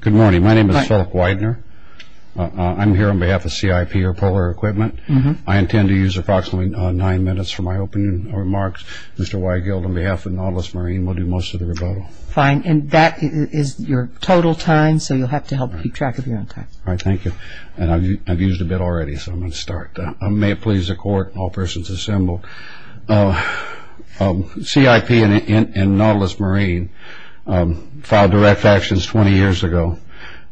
Good morning. My name is Philip Weidner. I'm here on behalf of CIP, or Polar Equipment. I intend to use approximately nine minutes for my opening remarks. Mr. Weigel, on behalf of Nautilus Marine, will do most of the rebuttal. Fine. And that is your total time, so you'll have to help keep track of your own time. All right. Thank you. And I've used a bit already, so I'm going to start. May it please the Court, all persons assembled. Mr. Weidner, CIP and Nautilus Marine filed direct actions 20 years ago.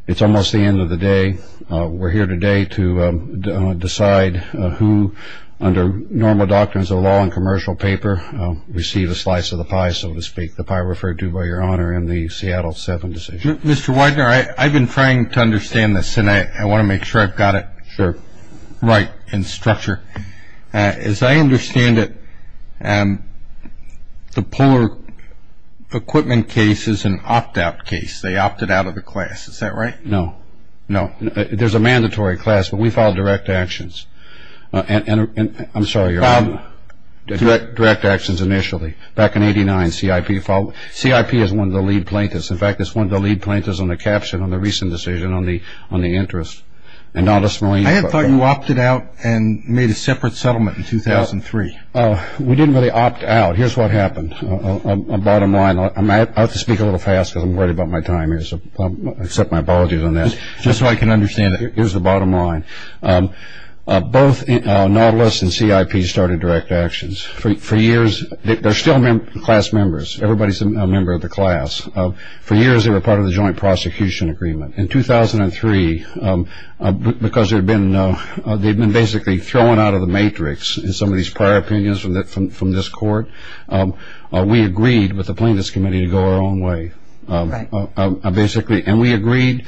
It's almost the end of the day. We're here today to decide who, under normal doctrines of law and commercial paper, receive a slice of the pie, so to speak, the pie referred to by Your Honor in the Seattle 7 decision. Mr. Weidner, I've been trying to understand this, and I want to make sure I've got it right in structure. As I understand it, the Polar Equipment case is an opt-out case. They opted out of the class. Is that right? No. No. There's a mandatory class, but we filed direct actions. I'm sorry, Your Honor. Direct actions initially. Back in 89, CIP filed. CIP is one of the lead plaintiffs. In fact, it's one of the lead plaintiffs on the caption on the recent decision on the interest. I had thought you opted out and made a separate settlement in 2003. We didn't really opt out. Here's what happened. A bottom line. I have to speak a little fast because I'm worried about my time here, so I accept my apologies on that. Just so I can understand it. Here's the bottom line. Both Nautilus and CIP started direct actions. For years, they're still class members. Everybody's a member of the class. For years, they were part of the joint prosecution agreement. In 2003, because they'd been basically thrown out of the matrix in some of these prior opinions from this court, we agreed with the plaintiffs' committee to go our own way. Right. Basically, and we agreed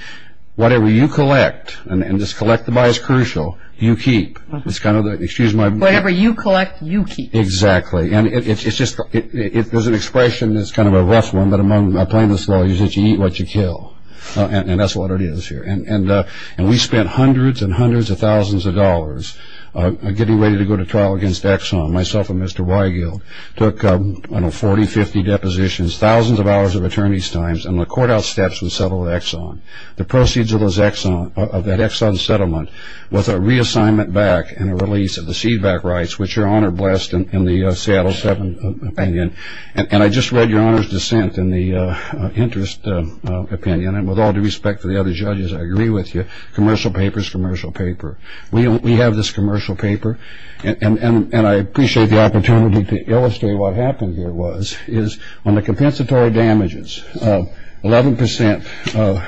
whatever you collect and just collect the bias crucial, you keep. It's kind of the, excuse my... Whatever you collect, you keep. Exactly. And it's just, it was an expression that's kind of a rough one, but among the plaintiffs' lawyers, you eat what you kill. And that's what it is here. And we spent hundreds and hundreds of thousands of dollars getting ready to go to trial against Exxon. Myself and Mr. Weigel took, I don't know, 40, 50 depositions, thousands of hours of attorney's times, and the court outsteps and settled with Exxon. The proceeds of that Exxon settlement was a reassignment back and a release of the c-back rights, which Your Honor blessed in the Seattle 7 opinion. And I just read Your Honor's dissent in the interest opinion. And with all due respect to the other judges, I agree with you. Commercial papers, commercial paper. We have this commercial paper. And I appreciate the opportunity to illustrate what happened here was, is on the compensatory damages, 11%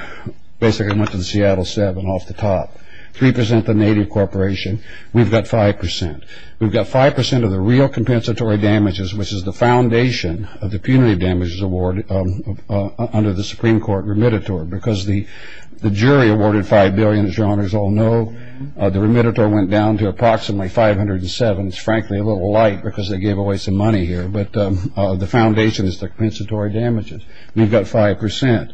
basically went to the Seattle 7 off the top, 3% the native corporation. We've got 5%. We've got 5% of the real compensatory damages, which is the foundation of the punitive damages award under the Supreme Court remittiture. Because the jury awarded 5 billion, as Your Honors all know. The remittiture went down to approximately 507. It's frankly a little light because they gave away some money here. But the foundation is the compensatory damages. We've got 5%.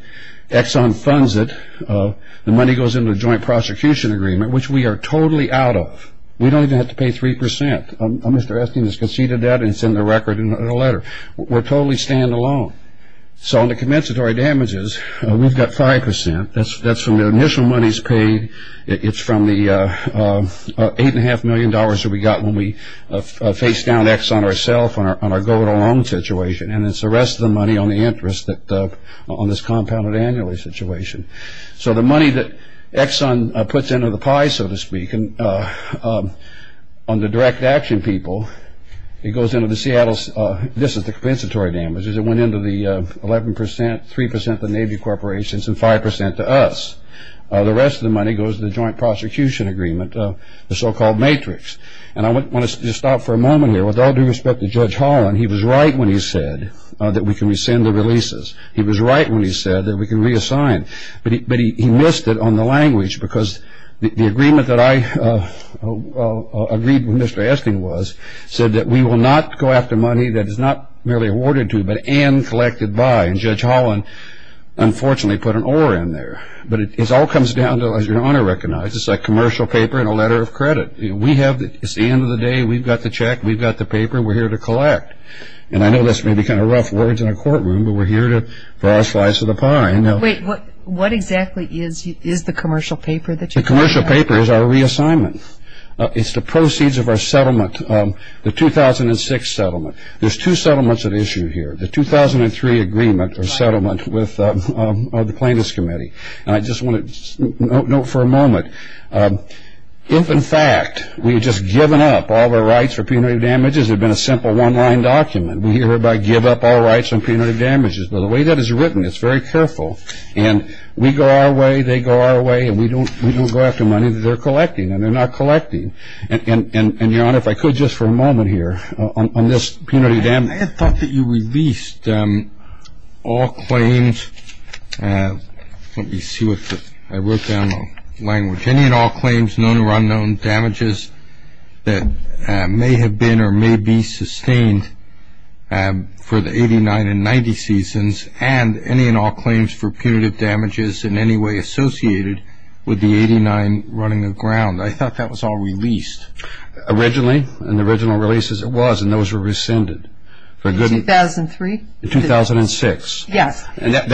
Exxon funds it. The money goes into the joint prosecution agreement, which we are totally out of. We don't even have to pay 3%. Mr. Estes has conceded that, and it's in the record in the letter. We're totally stand-alone. So on the compensatory damages, we've got 5%. That's from the initial monies paid. It's from the $8.5 million that we got when we faced down Exxon ourself on our go-it-alone situation. And it's the rest of the money on the interest on this compounded annually situation. So the money that Exxon puts into the pie, so to speak, on the direct action people, it goes into the Seattle. This is the compensatory damages. It went into the 11%, 3% to Navy corporations and 5% to us. The rest of the money goes to the joint prosecution agreement, the so-called matrix. And I want to just stop for a moment here. With all due respect to Judge Holland, he was right when he said that we can rescind the releases. He was right when he said that we can reassign. But he missed it on the language because the agreement that I agreed with Mr. Asking was, said that we will not go after money that is not merely awarded to but and collected by. And Judge Holland, unfortunately, put an or in there. But it all comes down to, as Your Honor recognizes, a commercial paper and a letter of credit. We have the end of the day. We've got the check. We've got the paper. We're here to collect. And I know this may be kind of rough words in a courtroom, but we're here for our slice of the pie. I know. Wait, what exactly is the commercial paper that you're talking about? The commercial paper is our reassignment. It's the proceeds of our settlement, the 2006 settlement. There's two settlements at issue here, the 2003 agreement or settlement with the plaintiff's committee. And I just want to note for a moment, if in fact we had just given up all the rights for punitive damages, it would have been a simple one-line document. We hear about give up all rights on punitive damages. But the way that is written, it's very careful. And we go our way, they go our way, and we don't go after money that they're collecting. And they're not collecting. And, Your Honor, if I could just for a moment here on this punitive damages. I had thought that you released all claims. Let me see what the ‑‑ I wrote down the language. Any and all claims known or unknown damages that may have been or may be sustained for the 89 and 90 seasons, and any and all claims for punitive damages in any way associated with the 89 running aground. I thought that was all released. Originally, in the original releases, it was, and those were rescinded. In 2003? In 2006. Yes. Settlement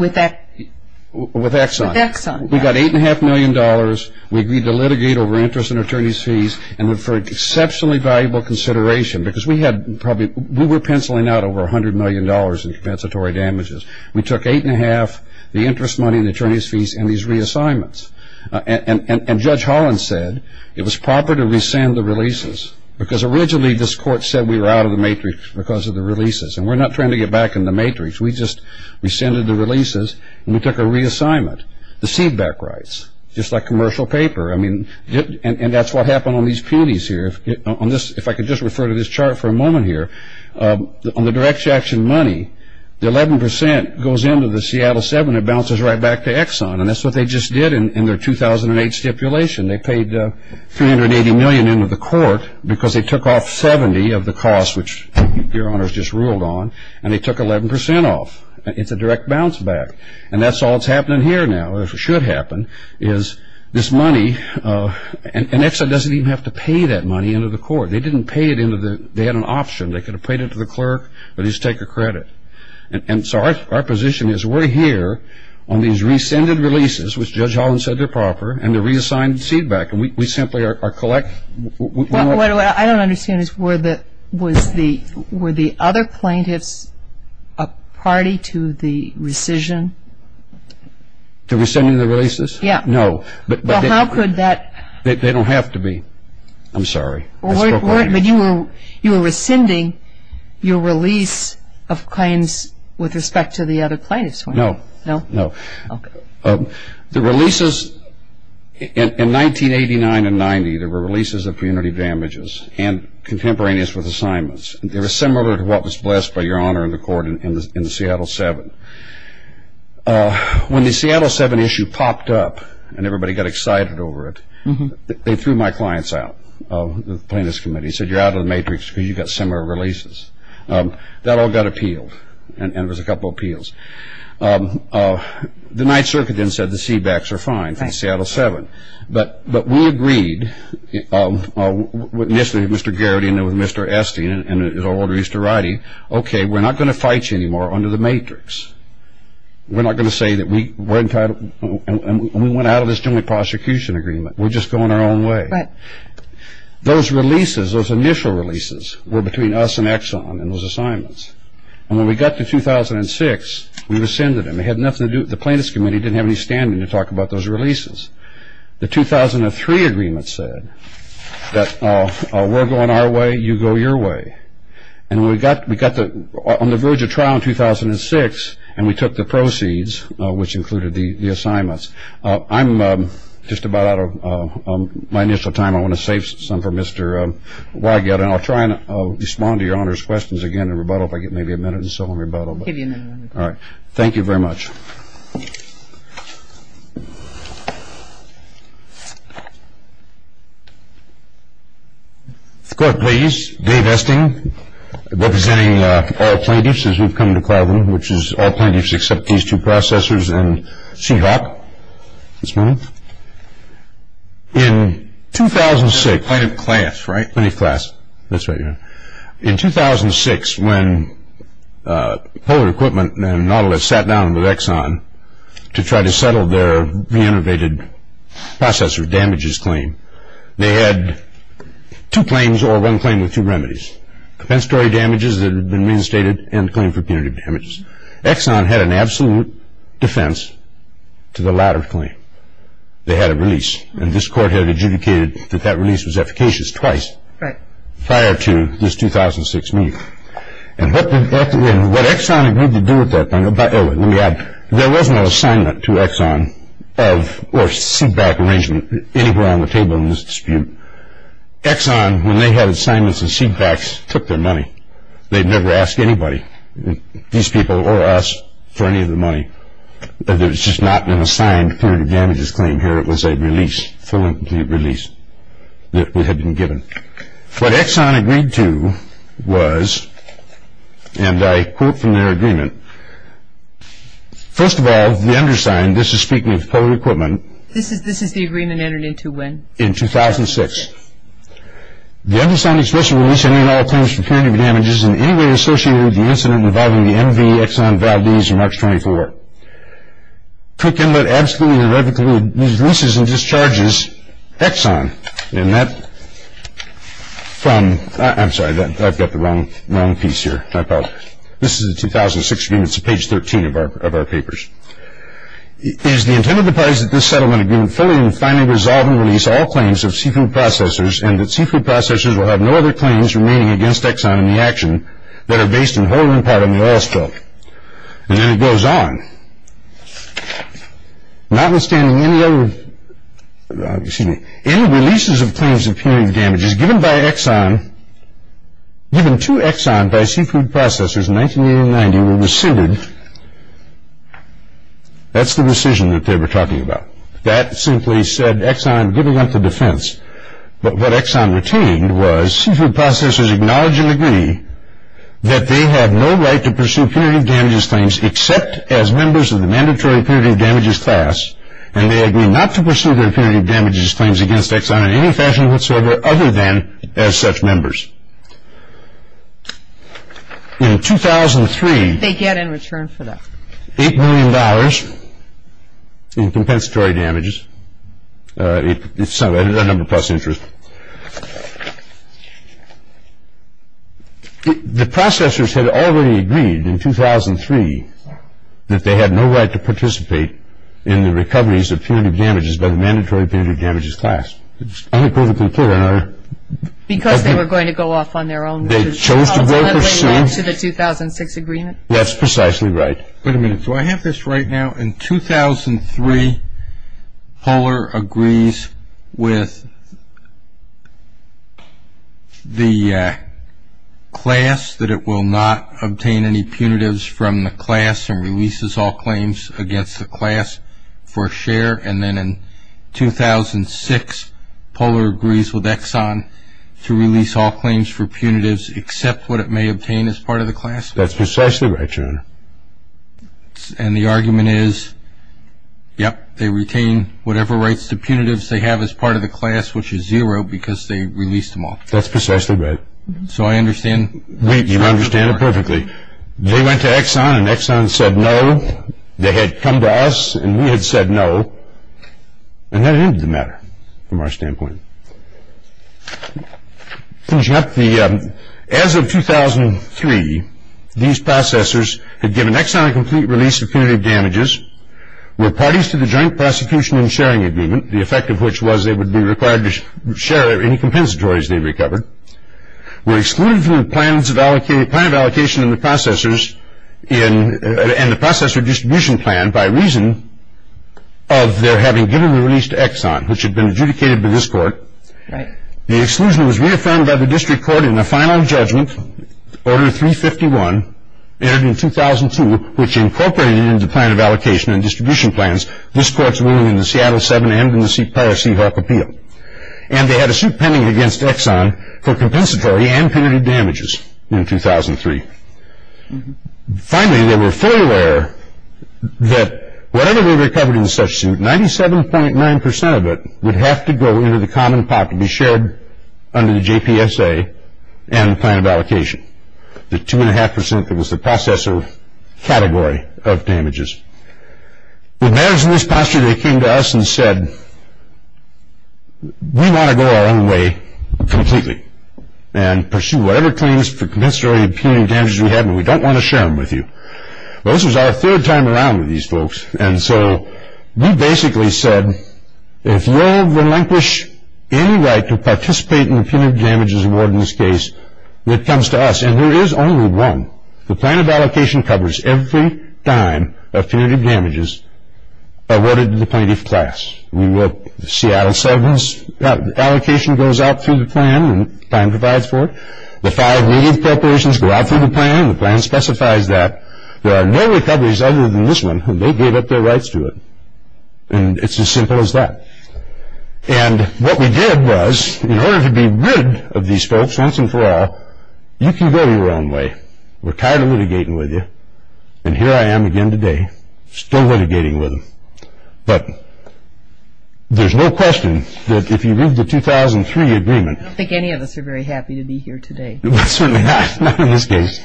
with Exxon. With Exxon. With Exxon, yes. We got $8.5 million, we agreed to litigate over interest and attorney's fees, and for exceptionally valuable consideration, because we had probably, we were penciling out over $100 million in compensatory damages. We took 8.5, the interest money, the attorney's fees, and these reassignments. And Judge Holland said it was proper to rescind the releases, because originally this court said we were out of the matrix because of the releases. And we're not trying to get back in the matrix. We just rescinded the releases, and we took a reassignment. The seedback rights, just like commercial paper, I mean, and that's what happened on these peonies here. If I could just refer to this chart for a moment here, on the direct action money, the 11% goes into the Seattle 7 and bounces right back to Exxon, and that's what they just did in their 2008 stipulation. They paid $380 million into the court because they took off 70 of the cost, which Your Honor has just ruled on, and they took 11% off. It's a direct bounce back. And that's all that's happening here now, or should happen, is this money, and Exxon doesn't even have to pay that money into the court. They didn't pay it into the, they had an option. They could have paid it to the clerk, or at least take a credit. And so our position is we're here on these rescinded releases, which Judge Holland said they're proper, and the reassigned seedback, and we simply are collecting. What I don't understand is were the other plaintiffs a party to the rescission? To rescinding the releases? Yeah. No. Well, how could that? They don't have to be. I'm sorry. But you were rescinding your release of claims with respect to the other plaintiffs. No. No? No. Okay. The releases, in 1989 and 1990, there were releases of punitive damages and contemporaneous with assignments. They were similar to what was blessed by Your Honor in the court in the Seattle 7. When the Seattle 7 issue popped up and everybody got excited over it, they threw my clients out of the plaintiffs' committee. They said, you're out of the matrix because you've got similar releases. That all got appealed, and there was a couple appeals. The Ninth Circuit then said the seedbacks are fine from Seattle 7, but we agreed with Mr. Geraghty and with Mr. Esty and his order used to write, okay, we're not going to fight you anymore under the matrix. We're not going to say that we're entitled, and we went out of this joint prosecution agreement. We're just going our own way. Right. Those releases, those initial releases, were between us and Exxon in those assignments. And when we got to 2006, we rescinded them. They had nothing to do with the plaintiffs' committee. They didn't have any standing to talk about those releases. The 2003 agreement said that we're going our way, you go your way. And we got on the verge of trial in 2006, and we took the proceeds, which included the assignments. I'm just about out of my initial time. I want to save some for Mr. Weigelt, and I'll try and respond to Your Honor's questions again in rebuttal if I get maybe a minute or so in rebuttal. I'll give you another minute. All right. Thank you very much. The Court, please. Dave Esty, representing all plaintiffs as we've come to cloud room, which is all plaintiffs except these two processers and Seahawk. That's mine. In 2006. Plaintiff class, right? That's right, Your Honor. In 2006, when Polar Equipment and Nautilus sat down with Exxon to try to settle their re-innovated processor damages claim, they had two claims or one claim with two remedies, compensatory damages that had been reinstated and claim for punitive damages. Exxon had an absolute defense to the latter claim. They had a release, and this Court had adjudicated that that release was efficacious twice. Right. Prior to this 2006 meeting. And what Exxon agreed to do with that, there was no assignment to Exxon or seatback arrangement anywhere on the table in this dispute. Exxon, when they had assignments and seatbacks, took their money. They'd never ask anybody, these people or us, for any of the money. There's just not an assigned punitive damages claim here. It was a release, full and complete release that had been given. What Exxon agreed to was, and I quote from their agreement, first of all, the undersigned, this is speaking of Polar Equipment. This is the agreement entered into when? In 2006. The undersigned express release any and all claims for punitive damages in any way associated with the incident involving the MV Exxon Valdez on March 24. Quick Inlet absolutely and irrevocably releases and discharges Exxon. And that, from, I'm sorry, I've got the wrong piece here. This is a 2006 agreement. It's page 13 of our papers. It is the intent of the parties that this settlement agreement fully and finally resolve and release all claims of seafood processors and that seafood processors will have no other claims remaining against Exxon in the action that are based in whole or in part on the oil spill. And then it goes on. Notwithstanding any other, excuse me, any releases of claims of punitive damages given by Exxon, given to Exxon by seafood processors in 1980 and 1990 were rescinded. That's the rescission that they were talking about. That simply said Exxon giving up the defense. But what Exxon retained was seafood processors acknowledge and agree that they have no right to pursue punitive damages claims except as members of the mandatory punitive damages class. And they agree not to pursue their punitive damages claims against Exxon in any fashion whatsoever other than as such members. In 2003, they get in return for that $8 million in compensatory damages. It's a number plus interest. The processors had already agreed in 2003 that they had no right to participate in the recoveries of punitive damages by the mandatory punitive damages class. It's unequivocally clear. Because they were going to go off on their own. They chose to go pursue. To the 2006 agreement. That's precisely right. Wait a minute. Do I have this right now? In 2003, Poehler agrees with the class that it will not obtain any punitives from the class and releases all claims against the class for a share. And then in 2006, Poehler agrees with Exxon to release all claims for punitives except what it may obtain as part of the class. That's precisely right, John. And the argument is, yep, they retain whatever rights to punitives they have as part of the class, which is zero because they released them all. That's precisely right. So I understand. You understand it perfectly. They went to Exxon and Exxon said no. They had come to us and we had said no. And that ended the matter from our standpoint. As of 2003, these processors had given Exxon a complete release of punitive damages, were parties to the joint prosecution and sharing agreement, the effect of which was they would be required to share any compensatories they recovered, were excluded from the plan of allocation and the processor distribution plan and by reason of their having given the release to Exxon, which had been adjudicated by this court, the exclusion was reaffirmed by the district court in the final judgment, Order 351, entered in 2002, which incorporated into the plan of allocation and distribution plans this court's ruling in the Seattle 7 and in the Poehler Seahawk Appeal. And they had a suit pending against Exxon for compensatory and punitive damages in 2003. Finally, they were fully aware that whatever they recovered in such suit, 97.9% of it would have to go into the common pot to be shared under the JPSA and the plan of allocation. The 2.5% was the processor category of damages. With matters in this posture, they came to us and said we want to go our own way completely and pursue whatever claims for compensatory and punitive damages we have and we don't want to share them with you. Well, this was our third time around with these folks and so we basically said if you all relinquish any right to participate in the punitive damages award in this case, it comes to us and there is only one. The plan of allocation covers every dime of punitive damages awarded to the plaintiff class. Seattle 7's allocation goes out through the plan and the plan provides for it. The five native corporations go out through the plan and the plan specifies that. There are no recoveries other than this one and they gave up their rights to it. And it's as simple as that. And what we did was in order to be rid of these folks once and for all, you can go your own way. We're tired of litigating with you and here I am again today still litigating with them. But there's no question that if you leave the 2003 agreement. I don't think any of us are very happy to be here today. Certainly not, not in this case.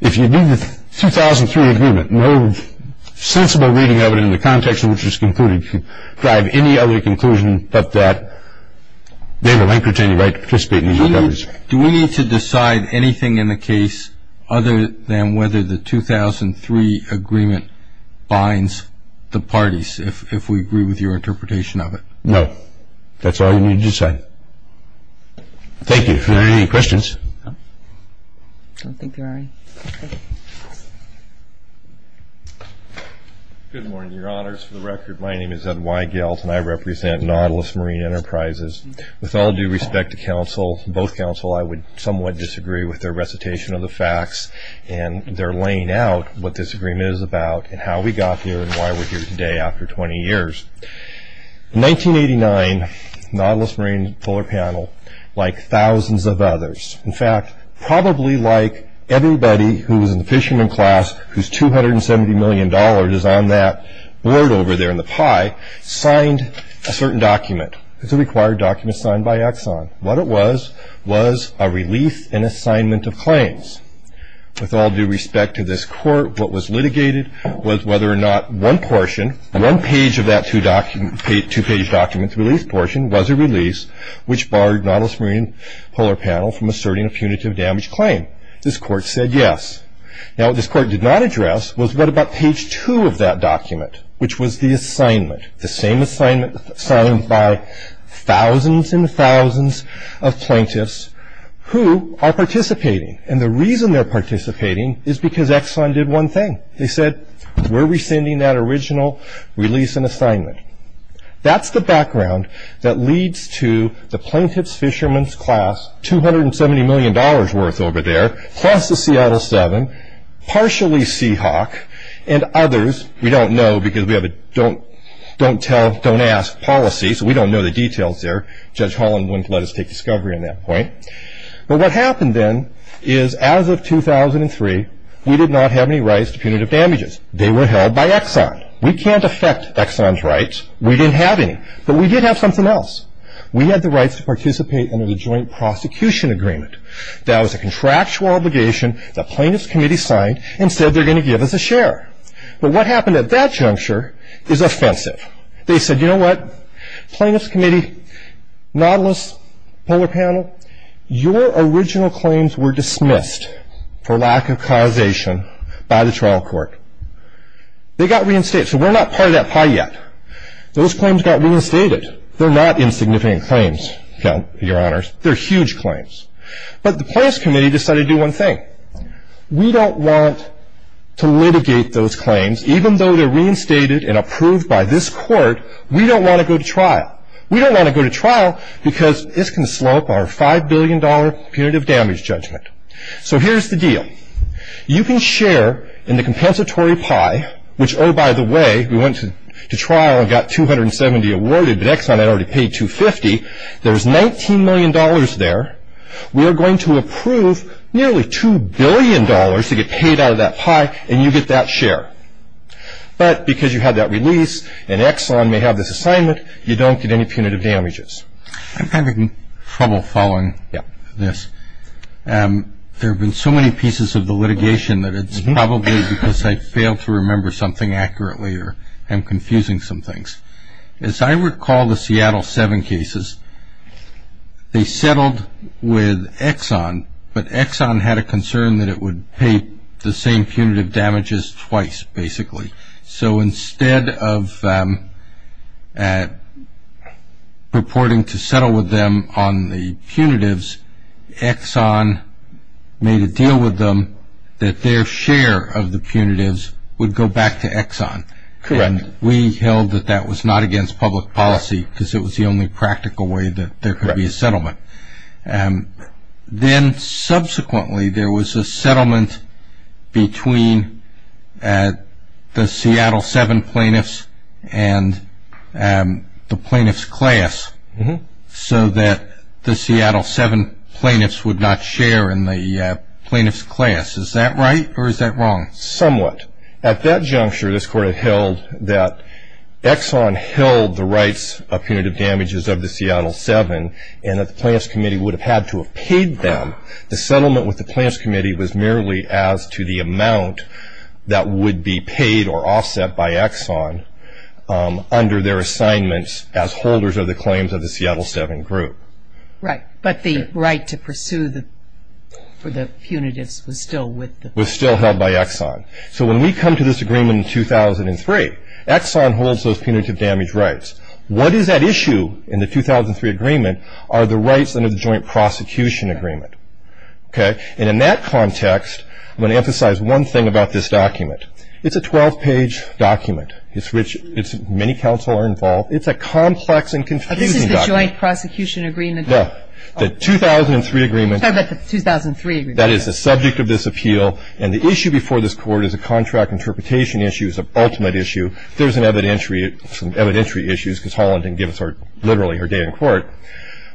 If you leave the 2003 agreement, no sensible reading of it in the context in which it's concluded could drive any other conclusion but that they relinquish any right to participate in the recoveries. Do we need to decide anything in the case other than whether the 2003 agreement binds the parties, if we agree with your interpretation of it? No. That's all we need to decide. Thank you. Are there any questions? I don't think there are any. Good morning, your honors. For the record, my name is Ed Weigelt and I represent Nautilus Marine Enterprises. With all due respect to counsel, both counsel, I would somewhat disagree with their recitation of the facts and their laying out what this agreement is about and how we got here and why we're here today after 20 years. In 1989, Nautilus Marine Polar Panel, like thousands of others, in fact, probably like everybody who was in the fisherman class, whose $270 million is on that board over there in the pie, signed a certain document. It's a required document signed by Exxon. What it was was a release and assignment of claims. With all due respect to this court, what was litigated was whether or not one portion, one page of that two-page document's release portion was a release which barred Nautilus Marine Polar Panel from asserting a punitive damage claim. This court said yes. Now, what this court did not address was what about page two of that document, which was the assignment, the same assignment signed by thousands and thousands of plaintiffs who are participating, and the reason they're participating is because Exxon did one thing. They said, we're rescinding that original release and assignment. That's the background that leads to the plaintiff's fisherman's class, $270 million worth over there, plus the Seattle Seven, partially Seahawk, and others we don't know because we have a don't tell, don't ask policy, so we don't know the details there. Judge Holland wouldn't let us take discovery on that point. But what happened then is as of 2003, we did not have any rights to punitive damages. They were held by Exxon. We can't affect Exxon's rights. We didn't have any, but we did have something else. We had the rights to participate under the Joint Prosecution Agreement. That was a contractual obligation that plaintiffs' committee signed and said they're going to give us a share. But what happened at that juncture is offensive. They said, you know what, plaintiffs' committee, Nautilus Polar Panel, your original claims were dismissed for lack of causation by the trial court. They got reinstated, so we're not part of that pie yet. Those claims got reinstated. They're not insignificant claims, your honors. They're huge claims. But the plaintiffs' committee decided to do one thing. We don't want to litigate those claims. Even though they're reinstated and approved by this court, we don't want to go to trial. We don't want to go to trial because this can slow up our $5 billion punitive damage judgment. So here's the deal. You can share in the compensatory pie, which, oh, by the way, we went to trial and got $270 awarded, but Exxon had already paid $250. There's $19 million there. We are going to approve nearly $2 billion to get paid out of that pie, and you get that share. But because you had that release and Exxon may have this assignment, you don't get any punitive damages. I'm having trouble following this. There have been so many pieces of the litigation that it's probably because I failed to remember something accurately or am confusing some things. As I recall the Seattle 7 cases, they settled with Exxon, but Exxon had a concern that it would pay the same punitive damages twice, basically. So instead of purporting to settle with them on the punitives, Exxon made a deal with them that their share of the punitives would go back to Exxon. Correct. And we held that that was not against public policy because it was the only practical way that there could be a settlement. Then subsequently there was a settlement between the Seattle 7 plaintiffs and the plaintiffs' class so that the Seattle 7 plaintiffs would not share in the plaintiffs' class. Is that right or is that wrong? Somewhat. At that juncture, this Court had held that Exxon held the rights of punitive damages of the Seattle 7 and that the Plaintiffs' Committee would have had to have paid them. The settlement with the Plaintiffs' Committee was merely as to the amount that would be paid or offset by Exxon under their assignments as holders of the claims of the Seattle 7 group. Right, but the right to pursue the punitives was still with them. Was still held by Exxon. So when we come to this agreement in 2003, Exxon holds those punitive damage rights. What is at issue in the 2003 agreement are the rights under the joint prosecution agreement, okay? And in that context, I'm going to emphasize one thing about this document. It's a 12-page document. It's rich. Many counsel are involved. It's a complex and confusing document. This is the joint prosecution agreement? No, the 2003 agreement. I'm talking about the 2003 agreement. That is the subject of this appeal. And the issue before this Court is a contract interpretation issue. It's an ultimate issue. There's some evidentiary issues because Holland didn't give us literally her day in court.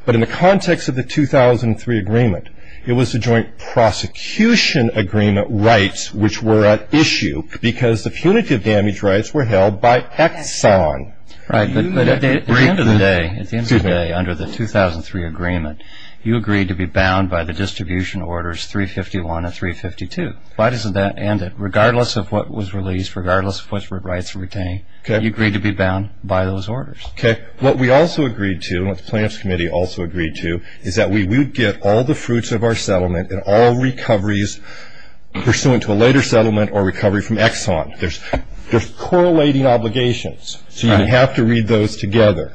But in the context of the 2003 agreement, it was the joint prosecution agreement rights which were at issue because the punitive damage rights were held by Exxon. Right, but at the end of the day, under the 2003 agreement, you agreed to be bound by the distribution orders 351 and 352. Why doesn't that end it? Regardless of what was released, regardless of which rights were retained, you agreed to be bound by those orders. Okay. What we also agreed to and what the plaintiffs' committee also agreed to is that we would get all the fruits of our settlement and all recoveries pursuant to a later settlement or recovery from Exxon. There's correlating obligations, so you have to read those together,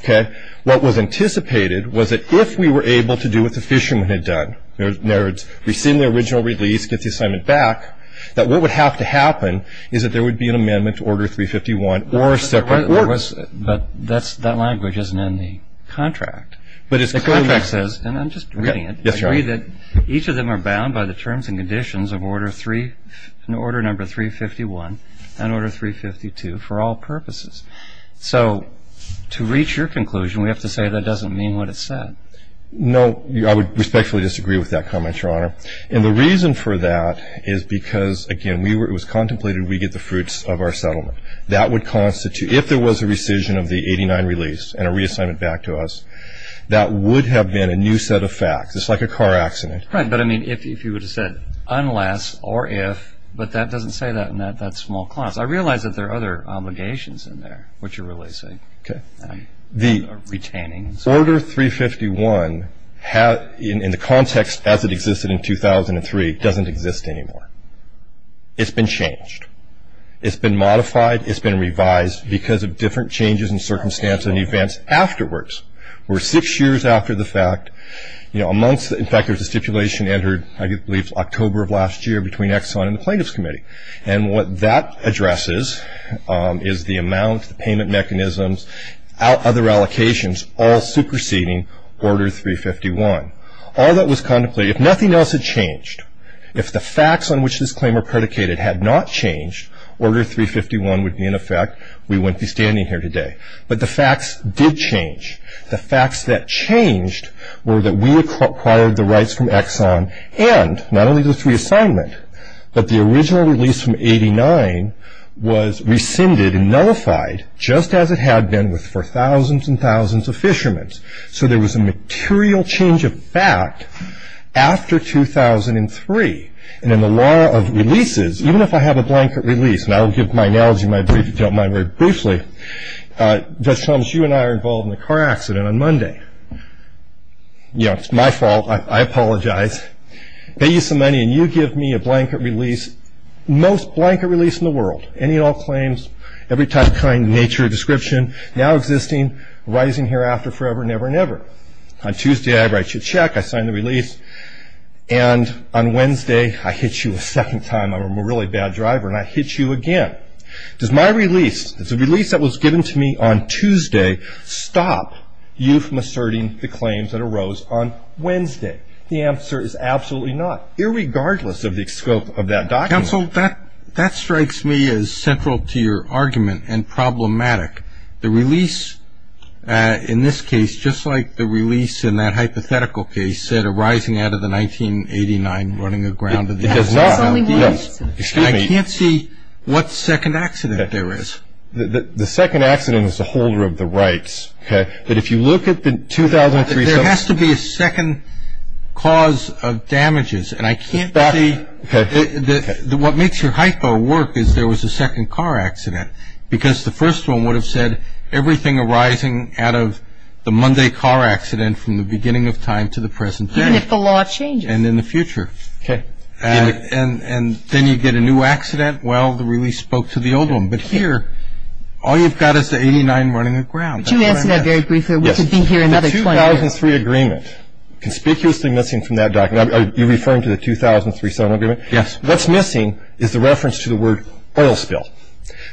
okay? What was anticipated was that if we were able to do what the fisherman had done, in other words, receive the original release, get the assignment back, that what would have to happen is that there would be an amendment to Order 351 or a separate order. But that language isn't in the contract. The contract says, and I'm just reading it, agree that each of them are bound by the terms and conditions of Order 351 and Order 352 for all purposes. So to reach your conclusion, we have to say that doesn't mean what it said. No. I would respectfully disagree with that comment, Your Honor. And the reason for that is because, again, it was contemplated we get the fruits of our settlement. That would constitute, if there was a rescission of the 89 release and a reassignment back to us, that would have been a new set of facts. It's like a car accident. Right. But, I mean, if you would have said unless or if, but that doesn't say that in that small clause. I realize that there are other obligations in there, which you're releasing. Okay. Or retaining. The Order 351, in the context as it existed in 2003, doesn't exist anymore. It's been changed. It's been modified. It's been revised because of different changes in circumstance and events afterwards. Where six years after the fact, you know, amongst, in fact, there's a stipulation entered, I believe, October of last year between Exxon and the Plaintiffs Committee. And what that addresses is the amount, the payment mechanisms, other allocations all superseding Order 351. All that was contemplated, if nothing else had changed, if the facts on which this claim were predicated had not changed, Order 351 would be in effect. We wouldn't be standing here today. But the facts did change. The facts that changed were that we acquired the rights from Exxon and not only the reassignment, but the original release from 89 was rescinded and nullified, just as it had been for thousands and thousands of fishermen. So there was a material change of fact after 2003. And in the law of releases, even if I have a blanket release, and I'll give my analogy, if you don't mind, very briefly. Judge Thomas, you and I are involved in a car accident on Monday. You know, it's my fault. I apologize. I pay you some money, and you give me a blanket release, the most blanket release in the world, any and all claims, every type, kind, nature, description, now existing, arising hereafter, forever, never, never. On Tuesday, I write you a check. I sign the release. And on Wednesday, I hit you a second time. I'm a really bad driver, and I hit you again. Does my release, the release that was given to me on Tuesday, stop you from asserting the claims that arose on Wednesday? The answer is absolutely not, irregardless of the scope of that document. Counsel, that strikes me as central to your argument and problematic. The release, in this case, just like the release in that hypothetical case said, arising out of the 1989 running aground. It does not. Excuse me. I can't see what second accident there is. The second accident is the holder of the rights. But if you look at the 2003. There has to be a second cause of damages, and I can't see. Okay. What makes your hypo work is there was a second car accident because the first one would have said everything arising out of the Monday car accident from the beginning of time to the present day. Even if the law changes. And in the future. Okay. And then you get a new accident. Well, the release spoke to the old one. But here, all you've got is the 89 running aground. Could you answer that very briefly? Yes. The 2003 agreement, conspicuously missing from that document. Are you referring to the 2003 settlement agreement? Yes. What's missing is the reference to the word oil spill.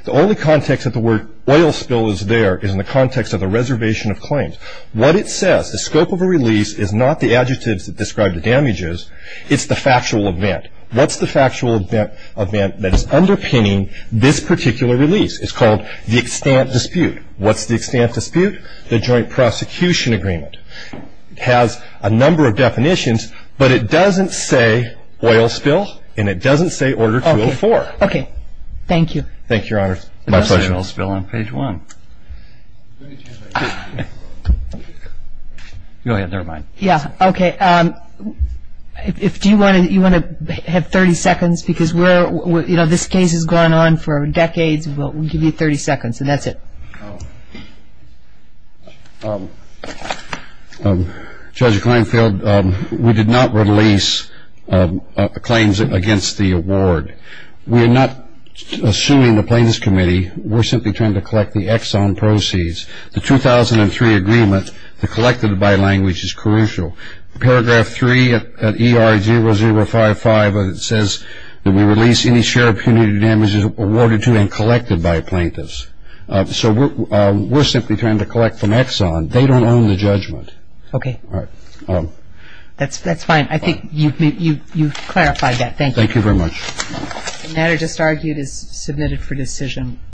The only context that the word oil spill is there is in the context of a reservation of claims. What it says, the scope of a release is not the adjectives that describe the damages. It's the factual event. What's the factual event that is underpinning this particular release? It's called the extant dispute. What's the extant dispute? The joint prosecution agreement. It has a number of definitions, but it doesn't say oil spill. And it doesn't say order 204. Okay. Thank you. Thank you, Your Honor. My pleasure. Oil spill on page 1. Go ahead. Never mind. Yeah. Okay. Do you want to have 30 seconds? Because this case has gone on for decades. We'll give you 30 seconds, and that's it. Judge Kleinfeld, we did not release claims against the award. We are not suing the plaintiffs' committee. We're simply trying to collect the exon proceeds. The 2003 agreement, the collected by language, is crucial. Paragraph 3 at ER0055 says that we release any share of punitive damages awarded to and collected by plaintiffs. So we're simply trying to collect from exon. They don't own the judgment. Okay. All right. That's fine. I think you've clarified that. Thank you. Thank you very much. The matter just argued is submitted for decision.